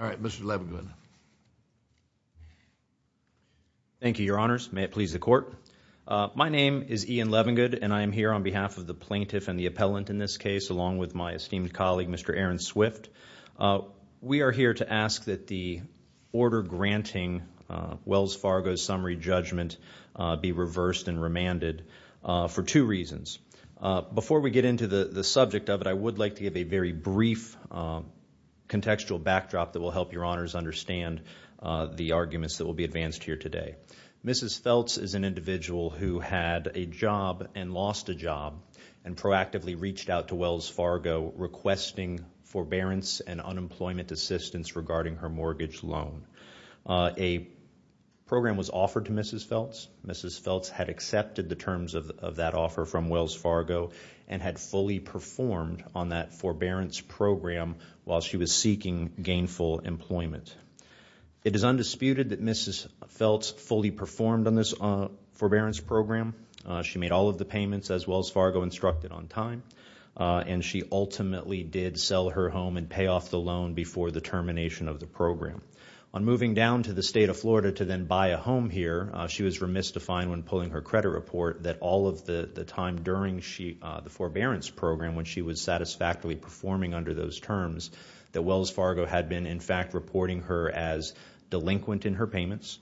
All right, Mr. Levengood. Thank you, Your Honors. May it please the Court. My name is Ian Levengood, and I am here on behalf of the plaintiff and the appellant in this case, along with my esteemed colleague, Mr. Aaron Swift. We are here to ask that the order granting Wells Fargo's summary judgment be reversed and remanded for two reasons. Before we get into the subject of it, I would like to give a very brief contextual backdrop that will help Your Honors understand the arguments that will be advanced here today. Mrs. Feltz is an individual who had a job and lost a job and proactively reached out to Wells Fargo requesting forbearance and unemployment assistance regarding her mortgage loan. A program was offered to Mrs. Feltz. Mrs. Feltz had accepted the terms of that offer from Wells Fargo and had fully performed on that forbearance program while she was seeking gainful employment. It is undisputed that Mrs. Feltz fully performed on this forbearance program. She made all of the payments as Wells Fargo instructed on time, and she ultimately did sell her home and pay off the loan before the termination of the program. On moving down to the State of Florida to then buy a home here, she was remystified when pulling her credit report that all of the time during the forbearance program when she was satisfactorily performing under those terms that Wells Fargo had been in fact reporting her as delinquent in her payments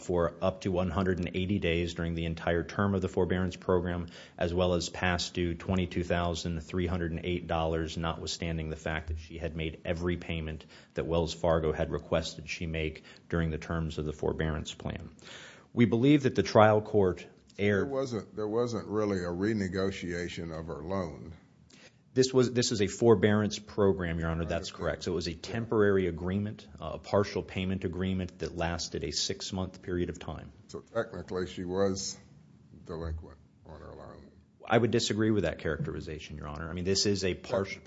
for up to 180 days during the entire term of the forbearance program as well as past due $22,308 notwithstanding the fact that she had made every payment that Wells Fargo had requested she make during the terms of the forbearance plan. We believe that the trial court erred. There wasn't really a renegotiation of her loan. This is a forbearance program, Your Honor. That's correct. So it was a temporary agreement, a partial payment agreement that lasted a six-month period of time. So technically, she was delinquent on her loan. I would disagree with that characterization, Your Honor. I mean, this is a partial.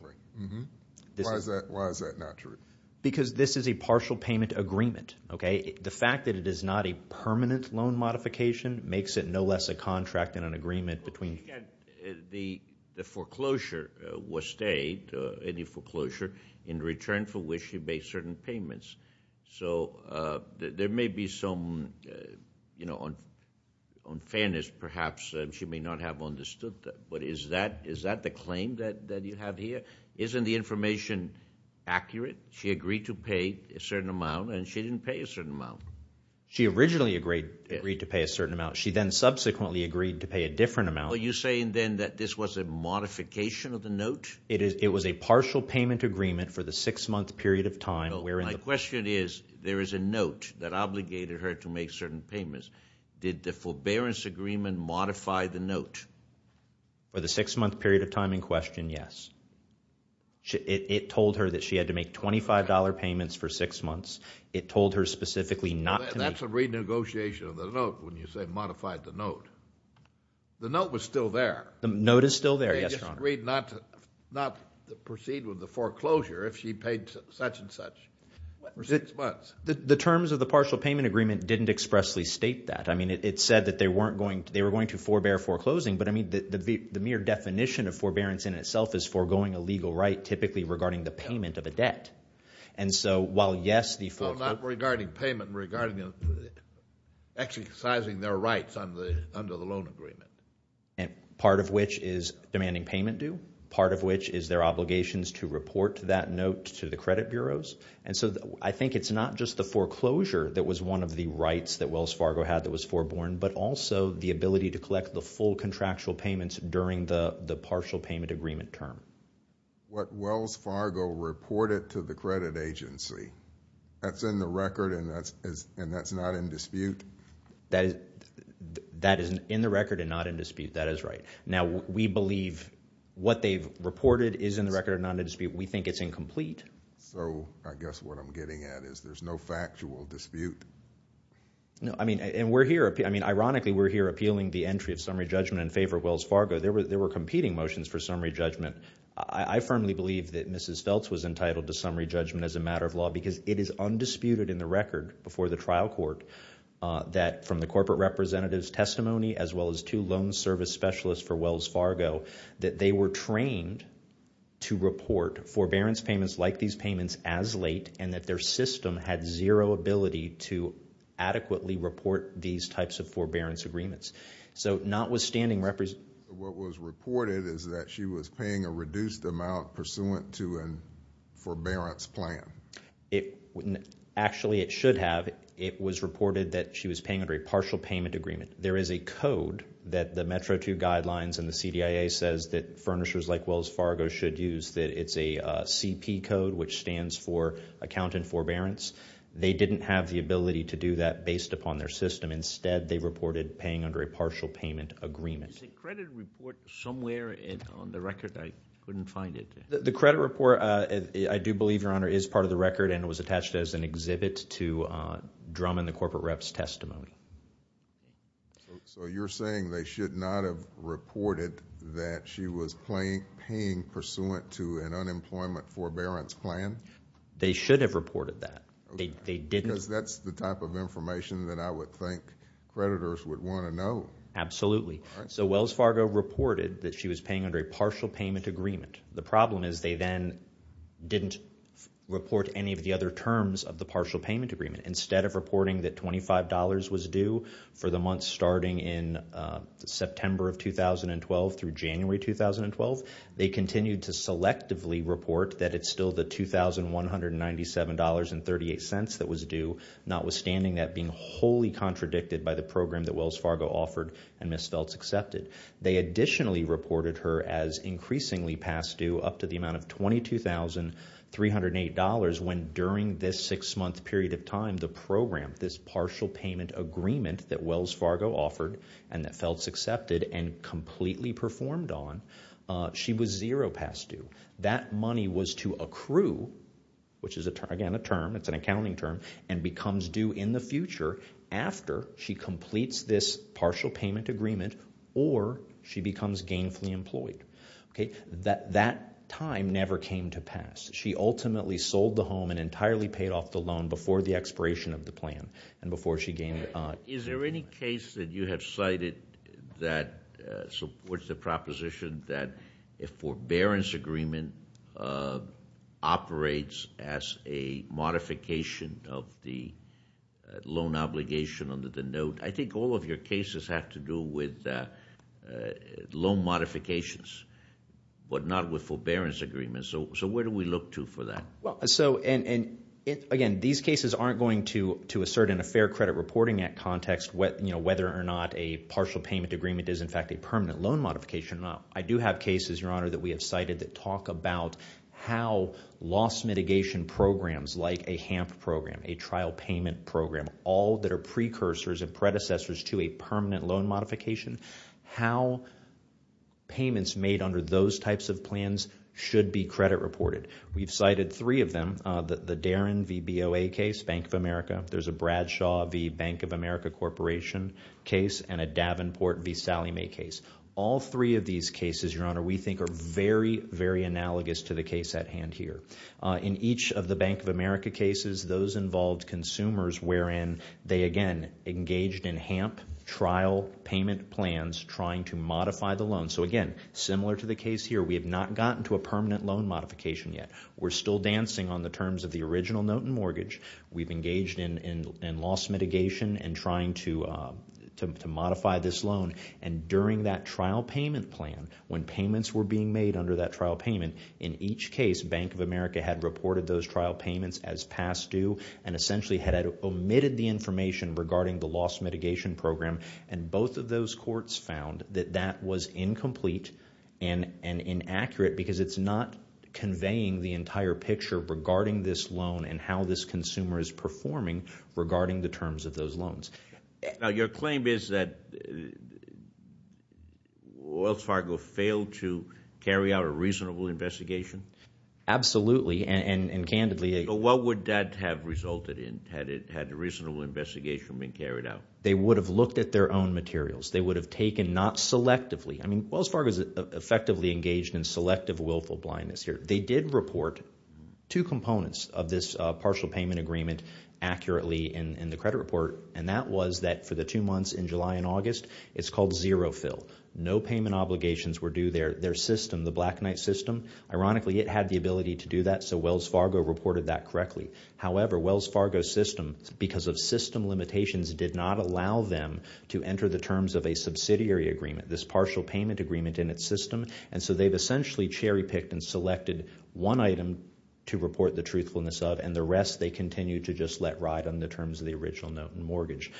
Why is that not true? Because this is a partial payment agreement, okay? The fact that it is not a permanent loan modification makes it no less a contract than an agreement between- The foreclosure was stayed, any foreclosure, in return for which she made certain payments. So there may be some, on fairness perhaps, she may not have understood that. But is that the claim that you have here? Isn't the information accurate? She agreed to pay a certain amount, and she didn't pay a certain amount. She originally agreed to pay a certain amount. She then subsequently agreed to pay a different amount. Are you saying then that this was a modification of the note? It was a partial payment agreement for the six-month period of time wherein- My question is, there is a note that obligated her to make certain payments. Did the forbearance agreement modify the note? For the six-month period of time in question, yes. It told her that she had to make $25 payments for six months. It told her specifically not to- That's a renegotiation of the note when you say modified the note. The note was still there. The note is still there, yes, Your Honor. She agreed not to proceed with the foreclosure if she paid such and such for six months. The terms of the partial payment agreement didn't expressly state that. I mean, it said that they were going to forbear foreclosing. But I mean, the mere definition of forbearance in itself is foregoing a legal right, typically regarding the payment of a debt. While yes, the foreclosure- Well, not regarding payment, regarding exercising their rights under the loan agreement. Part of which is demanding payment due. Part of which is their obligations to report that note to the credit bureaus. I think it's not just the foreclosure that was one of the rights that Wells Fargo had that was foreborne, but also the ability to collect the full contractual payments during the partial payment agreement term. What Wells Fargo reported to the credit agency, that's in the record and that's not in dispute? That is in the record and not in dispute. That is right. Now, we believe what they've reported is in the record and not in dispute. We think it's incomplete. So I guess what I'm getting at is there's no factual dispute? No, I mean, and we're here. Ironically, we're here appealing the entry of summary judgment in favor of Wells Fargo. There were competing motions for summary judgment. I firmly believe that Mrs. Feltz was entitled to summary judgment as a matter of law because it is undisputed in the record before the trial court that from the corporate representative's testimony, as well as two loan service specialists for Wells Fargo, that they were trained to report forbearance payments like these payments as late and that their system had zero ability to adequately report these types of forbearance agreements. So notwithstanding, what was reported is that she was paying a reduced amount pursuant to a forbearance plan. Actually, it should have. It was reported that she was paying under a partial payment agreement. There is a code that the Metro 2 guidelines and the CDIA says that furnishers like Wells Fargo should use. It's a CP code, which stands for Accountant Forbearance. They didn't have the ability to do that based upon their system. Instead, they reported paying under a partial payment agreement. Is the credit report somewhere on the record? I couldn't find it. The credit report, I do believe, Your Honor, is part of the record, and it was attached as an exhibit to Drum and the corporate rep's testimony. So you're saying they should not have reported that she was paying pursuant to an unemployment forbearance plan? They should have reported that. They didn't. Because that's the type of information that I would think creditors would want to know. Absolutely. So Wells Fargo reported that she was paying under a partial payment agreement. The problem is they then didn't report any of the other terms of the partial payment agreement. Instead of reporting that $25 was due for the month starting in September of 2012 through January 2012, they continued to selectively report that it's still the $2,197.38 that was due, notwithstanding that being wholly contradicted by the program that Wells Fargo offered and Ms. Feltz accepted. They additionally reported her as increasingly past due up to the amount of $22,308, when during this six-month period of time, the program, this partial payment agreement that Wells Fargo offered and that Feltz accepted and completely performed on, she was zero past due. That money was to accrue, which is, again, a term. It's an accounting term, and becomes due in the future after she completes this partial payment agreement or she becomes gainfully employed. That time never came to pass. She ultimately sold the home and entirely paid off the loan before the expiration of the plan and before she gained- Is there any case that you have cited that supports the proposition that a forbearance agreement operates as a modification of the loan obligation under the note? I think all of your cases have to do with loan modifications, but not with forbearance agreements. So where do we look to for that? Well, so, and again, these cases aren't going to assert in a Fair Credit Reporting Act context whether or not a partial payment agreement is, in fact, a permanent loan modification or not. I do have cases, Your Honor, that we have cited that talk about how loss mitigation programs, like a HAMP program, a trial payment program, all that are precursors and predecessors to a permanent loan modification. How payments made under those types of plans should be credit reported. We've cited three of them, the Darren v. BOA case, Bank of America, there's a Bradshaw v. Bank of America Corporation case, and a Davenport v. Sallie Mae case. All three of these cases, Your Honor, we think are very, very analogous to the case at hand here. In each of the Bank of America cases, those involved consumers wherein they, again, engaged in HAMP trial payment plans trying to modify the loan. So again, similar to the case here, we have not gotten to a permanent loan modification yet. We're still dancing on the terms of the original note and mortgage. We've engaged in loss mitigation and trying to modify this loan. And during that trial payment plan, when payments were being made under that trial payment, in each case, Bank of America had reported those trial payments as past due and essentially had omitted the information regarding the loss mitigation program. And both of those courts found that that was incomplete and inaccurate because it's not conveying the entire picture regarding this loan and how this consumer is performing regarding the terms of those loans. Now, your claim is that Wells Fargo failed to carry out a reasonable investigation? Absolutely, and candidly- So what would that have resulted in, had a reasonable investigation been carried out? They would have looked at their own materials. They would have taken, not selectively, I mean, Wells Fargo is effectively engaged in selective willful blindness here. They did report two components of this partial payment agreement accurately in the credit report, and that was that for the two months in July and August, it's called zero fill. No payment obligations were due. Their system, the Black Knight system, ironically, it had the ability to do that. So Wells Fargo reported that correctly. However, Wells Fargo's system, because of system limitations, did not allow them to enter the terms of a subsidiary agreement, this partial payment agreement in its system. And so they've essentially cherry-picked and selected one item to report the truthfulness of and the rest they continue to just let ride on the terms of the original note and mortgage.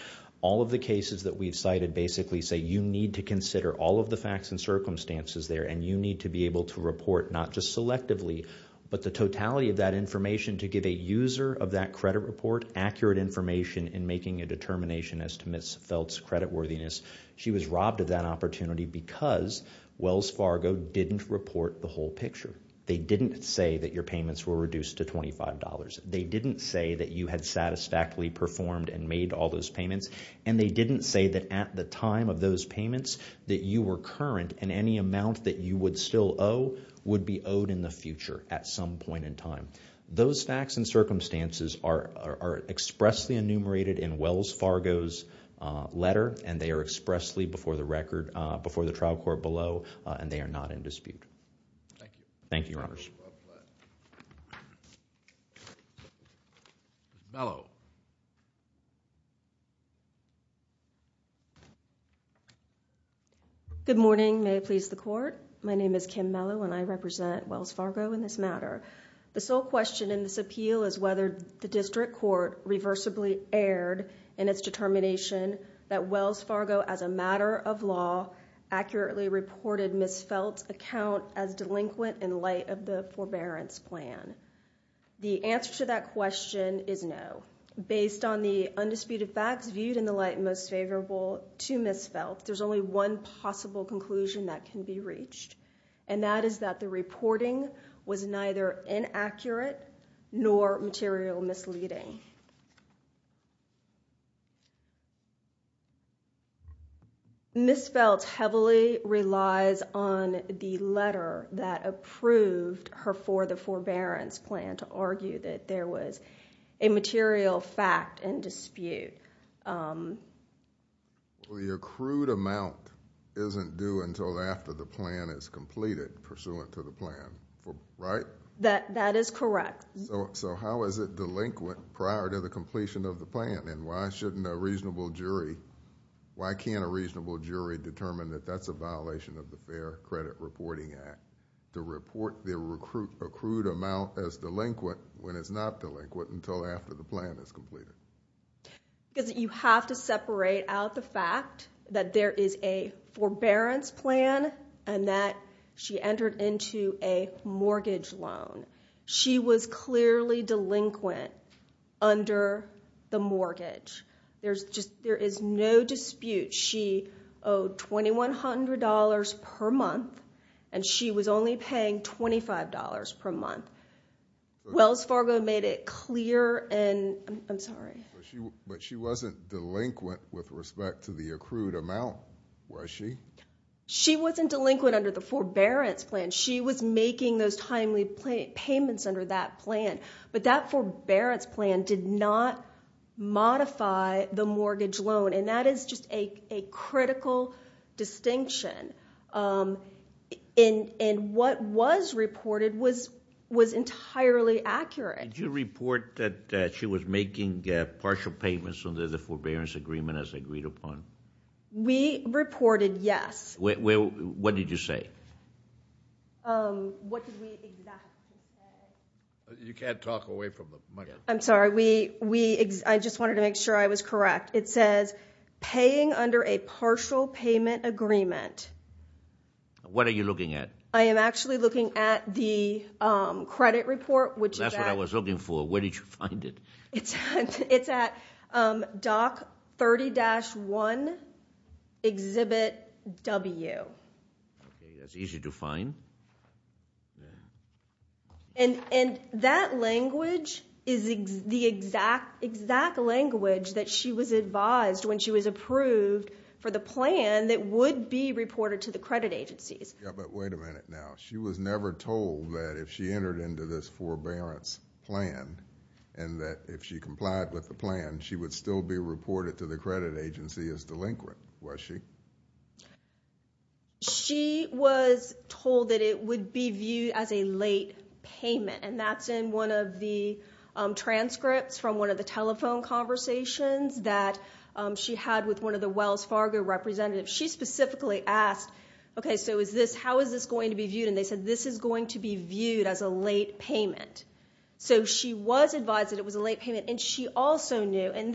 All of the cases that we've cited basically say you need to consider all of the facts and circumstances there, and you need to be able to report not just selectively, but the totality of that information to give a user of that credit report accurate information in making a determination as to Ms. Feltz' creditworthiness. She was robbed of that opportunity because Wells Fargo didn't report the whole picture. They didn't say that your payments were reduced to $25. They didn't say that you had satisfactorily performed and made all those payments, and they didn't say that at the time of those payments that you were current and any amount that you would still owe would be owed in the future at some point in time. Those facts and circumstances are expressly enumerated in Wells Fargo's letter, and they are expressly before the record, before the trial court below, and they are not in dispute. Thank you. Thank you, Your Honors. Ms. Mello. Good morning. May it please the court. My name is Kim Mello, and I represent Wells Fargo in this matter. The sole question in this appeal is whether the district court reversibly erred in its determination that Wells Fargo, as a matter of law, accurately reported Ms. Feltz' account as delinquent in light of the forbearance plan. The answer to that question is no. Based on the undisputed facts viewed in the light most favorable to Ms. Feltz, there's only one possible conclusion that can be reached, and that is that the reporting was neither inaccurate nor material misleading. Ms. Feltz heavily relies on the letter that approved her for the forbearance plan to argue that there was a material fact in dispute. The accrued amount isn't due until after the plan is completed pursuant to the plan, right? That is correct. How is it delinquent prior to the completion of the plan, and why can't a reasonable jury determine that that's a violation of the Fair Credit Reporting Act to report the accrued amount as delinquent when it's not delinquent until after the plan is completed? Because you have to separate out the fact that there is a forbearance plan and that she entered into a mortgage loan. She was clearly delinquent under the mortgage. There is no dispute. She owed $2,100 per month, and she was only paying $25 per month. Wells Fargo made it clear, and I'm sorry. But she wasn't delinquent with respect to the accrued amount, was she? She wasn't delinquent under the forbearance plan. She was making those timely payments under that plan, but that forbearance plan did not modify the mortgage loan, and that is just a critical distinction. And what was reported was entirely accurate. Did you report that she was making partial payments under the forbearance agreement as agreed upon? We reported yes. What did you say? What did we exactly say? You can't talk away from the microphone. I'm sorry. I just wanted to make sure I was correct. It says, paying under a partial payment agreement. What are you looking at? I am actually looking at the credit report, which is at- That's what I was looking for. Where did you find it? It's at doc30-1, exhibit W. Okay, that's easy to find. And that language is the exact language that she was advised when she was approved for the plan that would be reported to the credit agencies. Yeah, but wait a minute now. She was never told that if she entered into this forbearance plan and that if she complied with the plan, she would still be reported to the credit agency as delinquent, was she? She was told that it would be viewed as a late payment, and that's in one of the transcripts from one of the telephone conversations that she had with one of the Wells Fargo representatives. She specifically asked, okay, so how is this going to be viewed? And they said, this is going to be viewed as a late payment. So she was advised that it was a late payment, and she also knew, and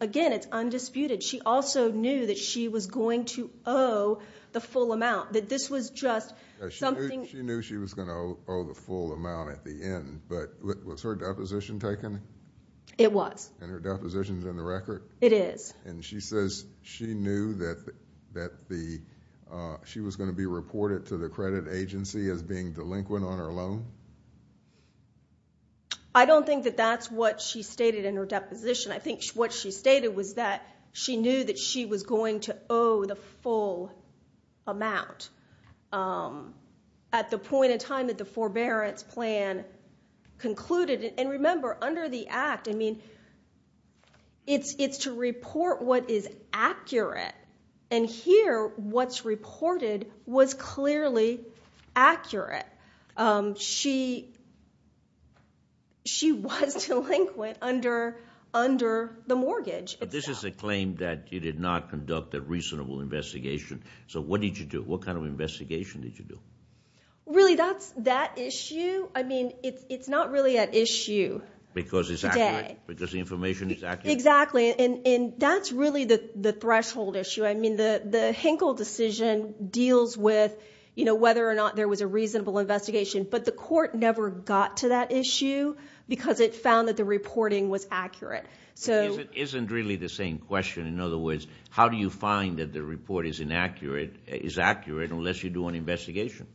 again, it's undisputed, she also knew that she was going to owe the full amount, that this was just something... She knew she was going to owe the full amount at the end, but was her deposition taken? It was. And her deposition's in the record? It is. And she says she knew that she was going to be reported to the credit agency as being delinquent on her loan? I don't think that that's what she stated in her deposition. I think what she stated was that she knew that she was going to owe the full amount at the point in time that the forbearance plan concluded. And remember, under the act, I mean, it's to report what is accurate. And here, what's reported was clearly accurate. She was delinquent under the mortgage itself. This is a claim that you did not conduct a reasonable investigation. So what did you do? What kind of investigation did you do? Really, that issue, I mean, it's not really an issue today. Because it's accurate? Because the information is accurate? Exactly. And that's really the threshold issue. I mean, the Hinkle decision deals with whether or not there was a reasonable investigation. But the court never got to that issue because it found that the reporting was accurate. So it isn't really the same question. In other words, how do you find that the report is inaccurate, is accurate, unless you do an investigation?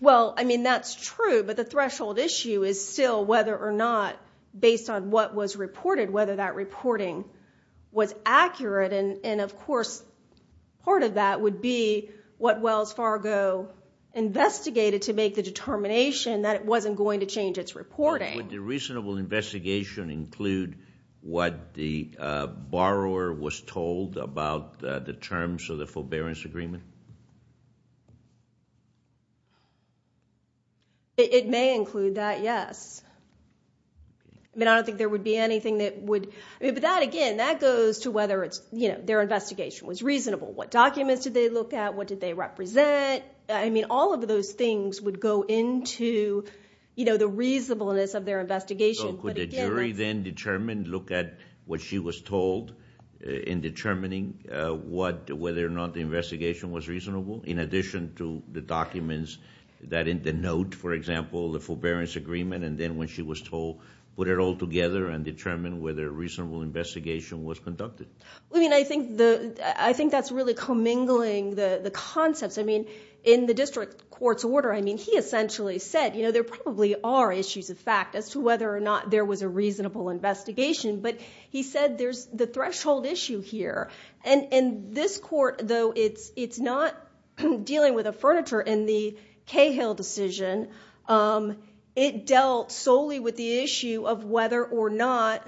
Well, I mean, that's true. But the threshold issue is still whether or not, based on what was reported, whether that reporting was accurate. And of course, part of that would be what Wells Fargo investigated to make the determination that it wasn't going to change its reporting. Would the reasonable investigation include what the borrower was told about the terms of the forbearance agreement? It may include that, yes. I mean, I don't think there would be anything that would, I mean, but that again, that goes to whether it's, you know, their investigation was reasonable. What documents did they look at? What did they represent? I mean, all of those things would go into, you know, the reasonableness of their investigation. So could the jury then determine, look at what she was told in determining whether or not the investigation was reasonable? In addition to the documents that in the note, for example, the forbearance agreement, and then when she was told, put it all together and determine whether a reasonable investigation was conducted. I mean, I think that's really commingling the concepts. I mean, in the district court's order, I mean, he essentially said, you know, there probably are issues of fact as to whether or not there was a reasonable investigation. But he said there's the threshold issue here. And this court, though, it's not dealing with a furniture in the Cahill decision. It dealt solely with the issue of whether or not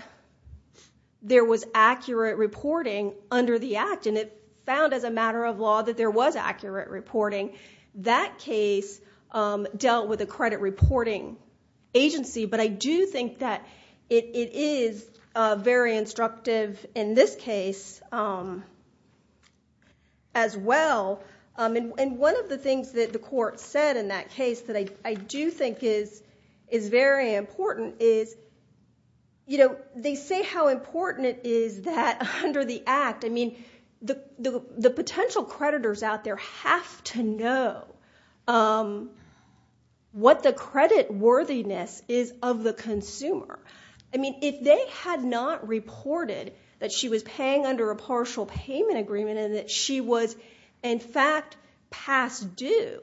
there was accurate reporting under the act. And it found as a matter of law that there was accurate reporting. That case dealt with a credit reporting agency. But I do think that it is very instructive in this case as well. And one of the things that the court said in that case that I do think is very important is, you know, they say how important it is that under the act, I mean, the potential creditors out there have to know what the credit worthiness is of the consumer. I mean, if they had not reported that she was paying under a partial payment agreement and that she was, in fact, past due,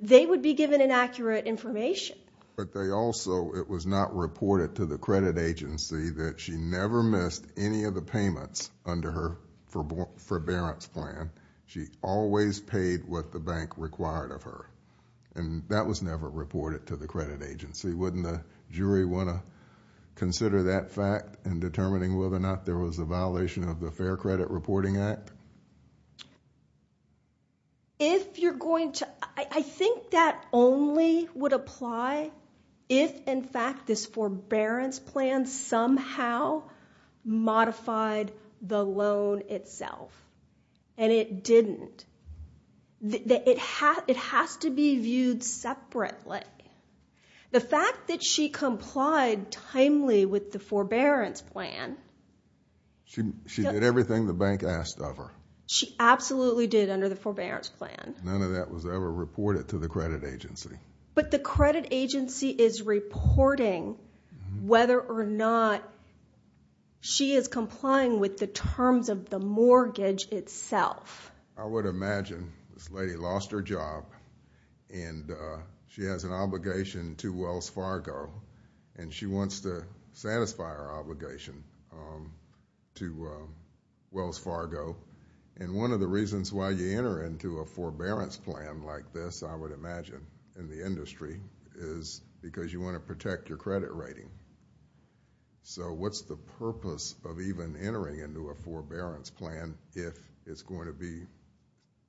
they would be given inaccurate information. But they also, it was not reported to the credit agency that she never missed any of the payments under her forbearance plan. She always paid what the bank required of her. And that was never reported to the credit agency. Wouldn't a jury want to consider that fact in determining whether or not there was a If you're going to, I think that only would apply if, in fact, this forbearance plan somehow modified the loan itself. And it didn't. It has to be viewed separately. The fact that she complied timely with the forbearance plan. She did everything the bank asked of her. She absolutely did under the forbearance plan. None of that was ever reported to the credit agency. But the credit agency is reporting whether or not she is complying with the terms of the mortgage itself. I would imagine this lady lost her job and she has an obligation to Wells Fargo and she wants to satisfy her obligation to Wells Fargo. And one of the reasons why you enter into a forbearance plan like this, I would imagine, in the industry, is because you want to protect your credit rating. So what's the purpose of even entering into a forbearance plan if it's going to be,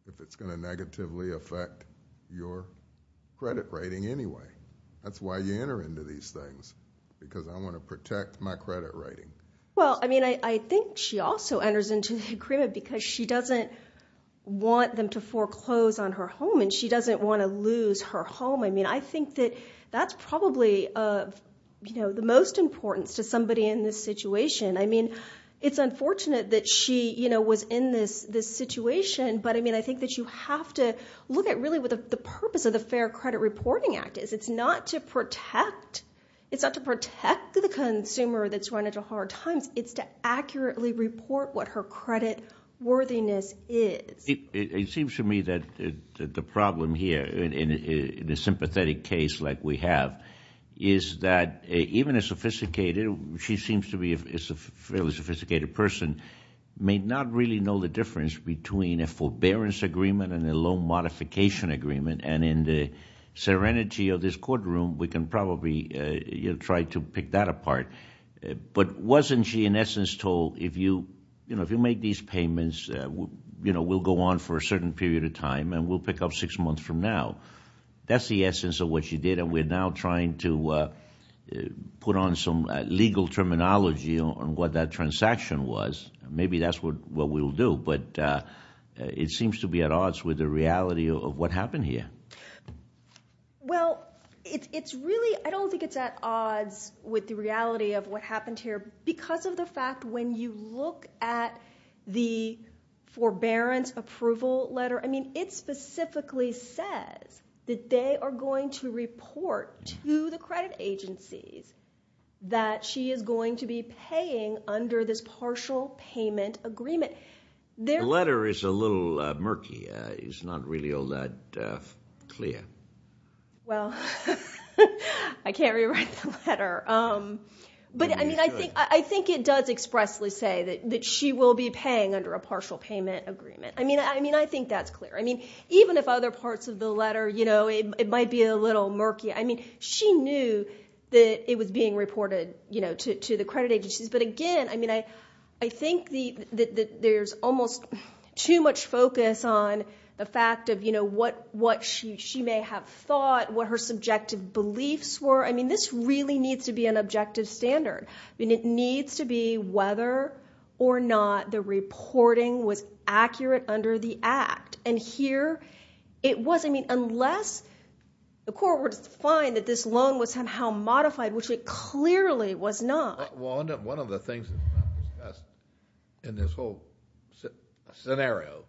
if it's going to negatively affect your credit rating anyway? That's why you enter into these things, because I want to protect my credit rating. Well, I mean, I think she also enters into the agreement because she doesn't want them to foreclose on her home and she doesn't want to lose her home. I mean, I think that that's probably, you know, the most importance to somebody in this situation. I mean, it's unfortunate that she, you know, was in this situation. But I mean, I think that you have to look at really what the purpose of the Fair Credit Reporting Act is. It's not to protect, it's not to protect the consumer that's run into hard times. It's to accurately report what her credit worthiness is. It seems to me that the problem here, in a sympathetic case like we have, is that even a sophisticated, she seems to be a fairly sophisticated person, may not really know the difference between a forbearance agreement and a loan modification agreement. And in the serenity of this courtroom, we can probably, you know, try to pick that apart. But wasn't she, in essence, told, you know, if you make these payments, you know, we'll go on for a certain period of time and we'll pick up six months from now? That's the essence of what she did and we're now trying to put on some legal terminology on what that transaction was. Maybe that's what we'll do, but it seems to be at odds with the reality of what happened here. Well, it's really, I don't think it's at odds with the reality of what happened here because of the fact when you look at the forbearance approval letter, I mean, it specifically says that they are going to report to the credit agencies that she is going to be paying under this partial payment agreement. The letter is a little murky. It's not really all that clear. Well, I can't rewrite the letter. But I mean, I think it does expressly say that she will be paying under a partial payment agreement. I mean, I think that's clear. I mean, even if other parts of the letter, you know, it might be a little murky. I mean, she knew that it was being reported, you know, to the credit agencies, but again, I mean, I think that there's almost too much focus on the fact of, you know, what she may have thought, what her subjective beliefs were. I mean, this really needs to be an objective standard. I mean, it needs to be whether or not the reporting was accurate under the act. And here, it was. I mean, unless the court were to find that this loan was somehow modified, which it clearly was not. Well, one of the things that's not discussed in this whole scenario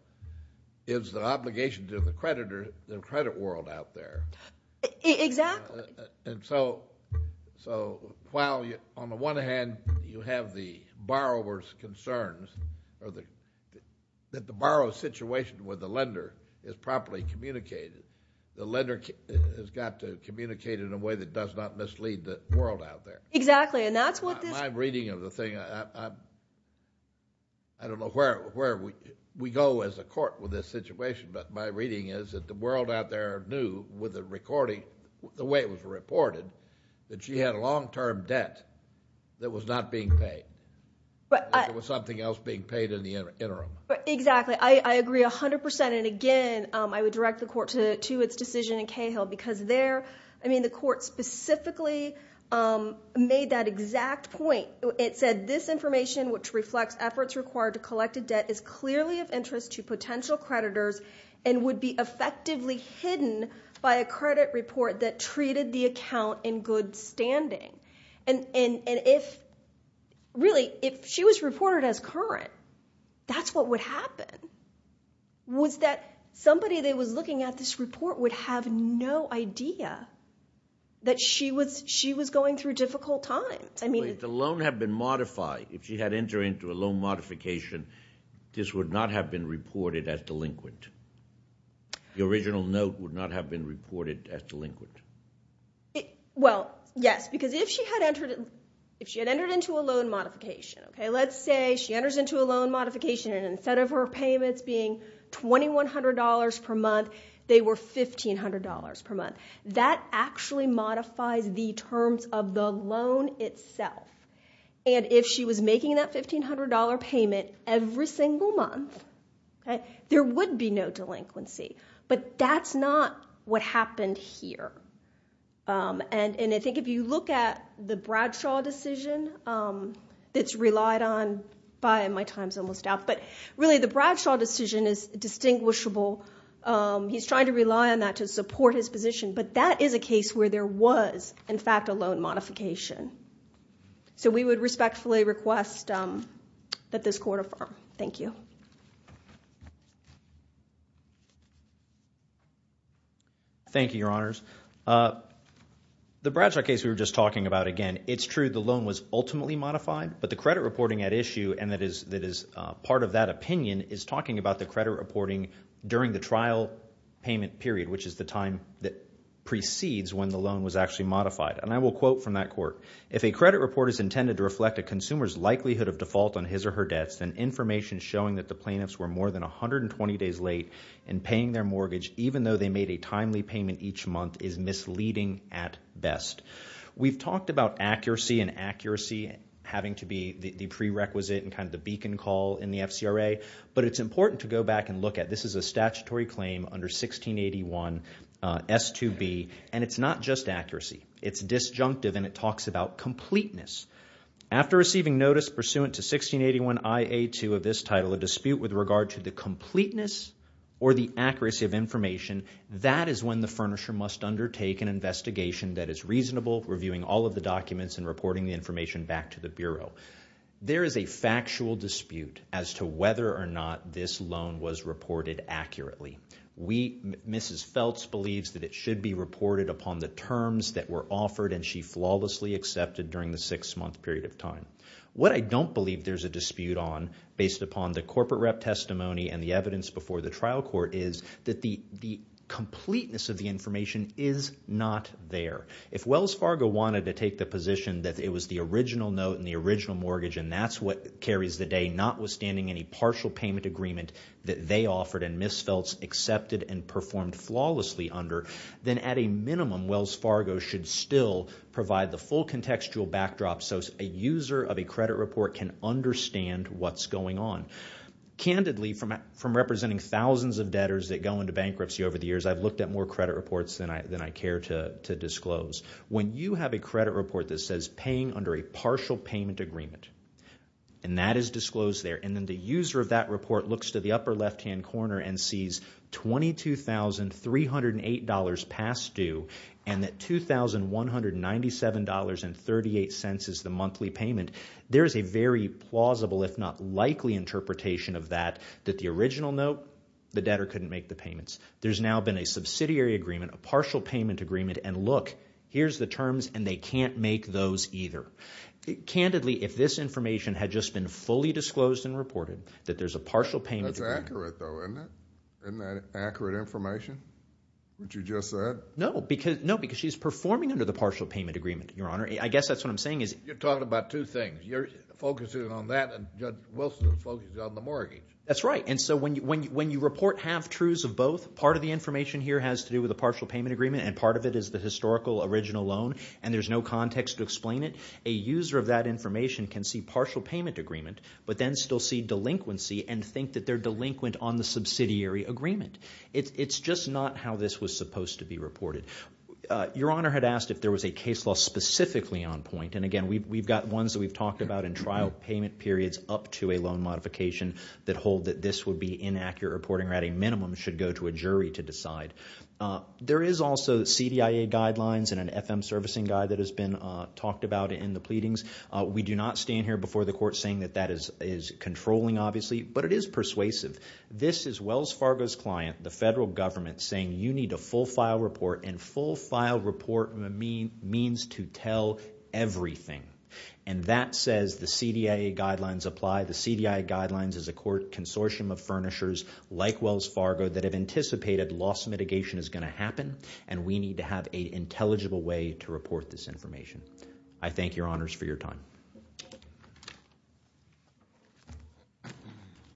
is the obligation to the creditor, the credit world out there. Exactly. And so, while on the one hand, you have the borrower's concerns that the borrower's situation with the lender is properly communicated, the lender has got to communicate in a way that does not mislead the world out there. Exactly. My reading of the thing, I don't know where we go as a court with this situation, but my reading is that the world out there knew with the recording, the way it was reported, that she had a long-term debt that was not being paid, that there was something else being paid in the interim. Exactly. I agree 100%. And again, I would direct the court to its decision in Cahill because there, I mean, the court specifically made that exact point. It said, this information, which reflects efforts required to collect a debt, is clearly of interest to potential creditors and would be effectively hidden by a credit report that treated the account in good standing. And if, really, if she was reported as current, that's what would happen, was that somebody that was looking at this report would have no idea that she was going through difficult times. If the loan had been modified, if she had entered into a loan modification, this would not have been reported as delinquent. The original note would not have been reported as delinquent. Well, yes, because if she had entered into a loan modification, okay, let's say she enters into a loan modification and instead of her payments being $2,100 per month, they were $1,500 per month. That actually modifies the terms of the loan itself. And if she was making that $1,500 payment every single month, there would be no delinquency. But that's not what happened here. And I think if you look at the Bradshaw decision that's relied on by, my time's almost out, but really the Bradshaw decision is distinguishable. He's trying to rely on that to support his position. But that is a case where there was, in fact, a loan modification. So we would respectfully request that this court affirm. Thank you. Thank you, Your Honors. The Bradshaw case we were just talking about, again, it's true the loan was ultimately modified, but the credit reporting at issue, and that is part of that opinion, is talking about the credit reporting during the trial payment period, which is the time that precedes when the loan was actually modified. And I will quote from that court. If a credit report is intended to reflect a consumer's likelihood of default on his or her debts, then information showing that the plaintiffs were more than 120 days late in paying their mortgage, even though they made a timely payment each month, is misleading at best. We've talked about accuracy and accuracy having to be the prerequisite and kind of the beacon call in the FCRA. But it's important to go back and look at, this is a statutory claim under 1681 S2B, and it's not just accuracy. It's disjunctive, and it talks about completeness. After receiving notice pursuant to 1681 IA2 of this title, a dispute with regard to the completeness or the accuracy of information, that is when the furnisher must undertake an investigation that is reasonable, reviewing all of the documents and reporting the information back to the Bureau. There is a factual dispute as to whether or not this loan was reported accurately. Mrs. Feltz believes that it should be reported upon the terms that were offered and she flawlessly accepted during the six-month period of time. What I don't believe there's a dispute on, based upon the corporate rep testimony and the evidence before the trial court, is that the completeness of the information is not there. If Wells Fargo wanted to take the position that it was the original note and the original mortgage and that's what carries the day, notwithstanding any partial payment agreement that they offered and Mrs. Feltz accepted and performed flawlessly under, then at a backdrop so a user of a credit report can understand what's going on. Candidly, from representing thousands of debtors that go into bankruptcy over the years, I've looked at more credit reports than I care to disclose. When you have a credit report that says paying under a partial payment agreement and that is disclosed there and then the user of that report looks to the upper left-hand corner and sees $22,308 past due and that $2,197.38 is the monthly payment, there is a very plausible if not likely interpretation of that, that the original note, the debtor couldn't make the payments. There's now been a subsidiary agreement, a partial payment agreement and look, here's the terms and they can't make those either. Candidly, if this information had just been fully disclosed and reported, that there's a partial payment agreement. That's accurate though, isn't it? Isn't that accurate information, what you just said? No, because she's performing under the partial payment agreement, your honor. I guess that's what I'm saying is… You're talking about two things. You're focusing on that and Judge Wilson is focused on the mortgage. That's right and so when you report half-truths of both, part of the information here has to do with a partial payment agreement and part of it is the historical original loan and there's no context to explain it. A user of that information can see partial payment agreement but then still see delinquency and think that they're delinquent on the subsidiary agreement. It's just not how this was supposed to be reported. Your honor had asked if there was a case law specifically on point and again, we've got ones that we've talked about in trial payment periods up to a loan modification that hold that this would be inaccurate reporting or at a minimum should go to a jury to decide. There is also CDIA guidelines and an FM servicing guide that has been talked about in the pleadings. We do not stand here before the court saying that that is controlling obviously but it is persuasive. This is Wells Fargo's client, the federal government, saying you need a full file report and full file report means to tell everything and that says the CDIA guidelines apply. The CDIA guidelines is a consortium of furnishers like Wells Fargo that have anticipated loss mitigation is going to happen and we need to have an intelligible way to report this information. I thank your honors for your time.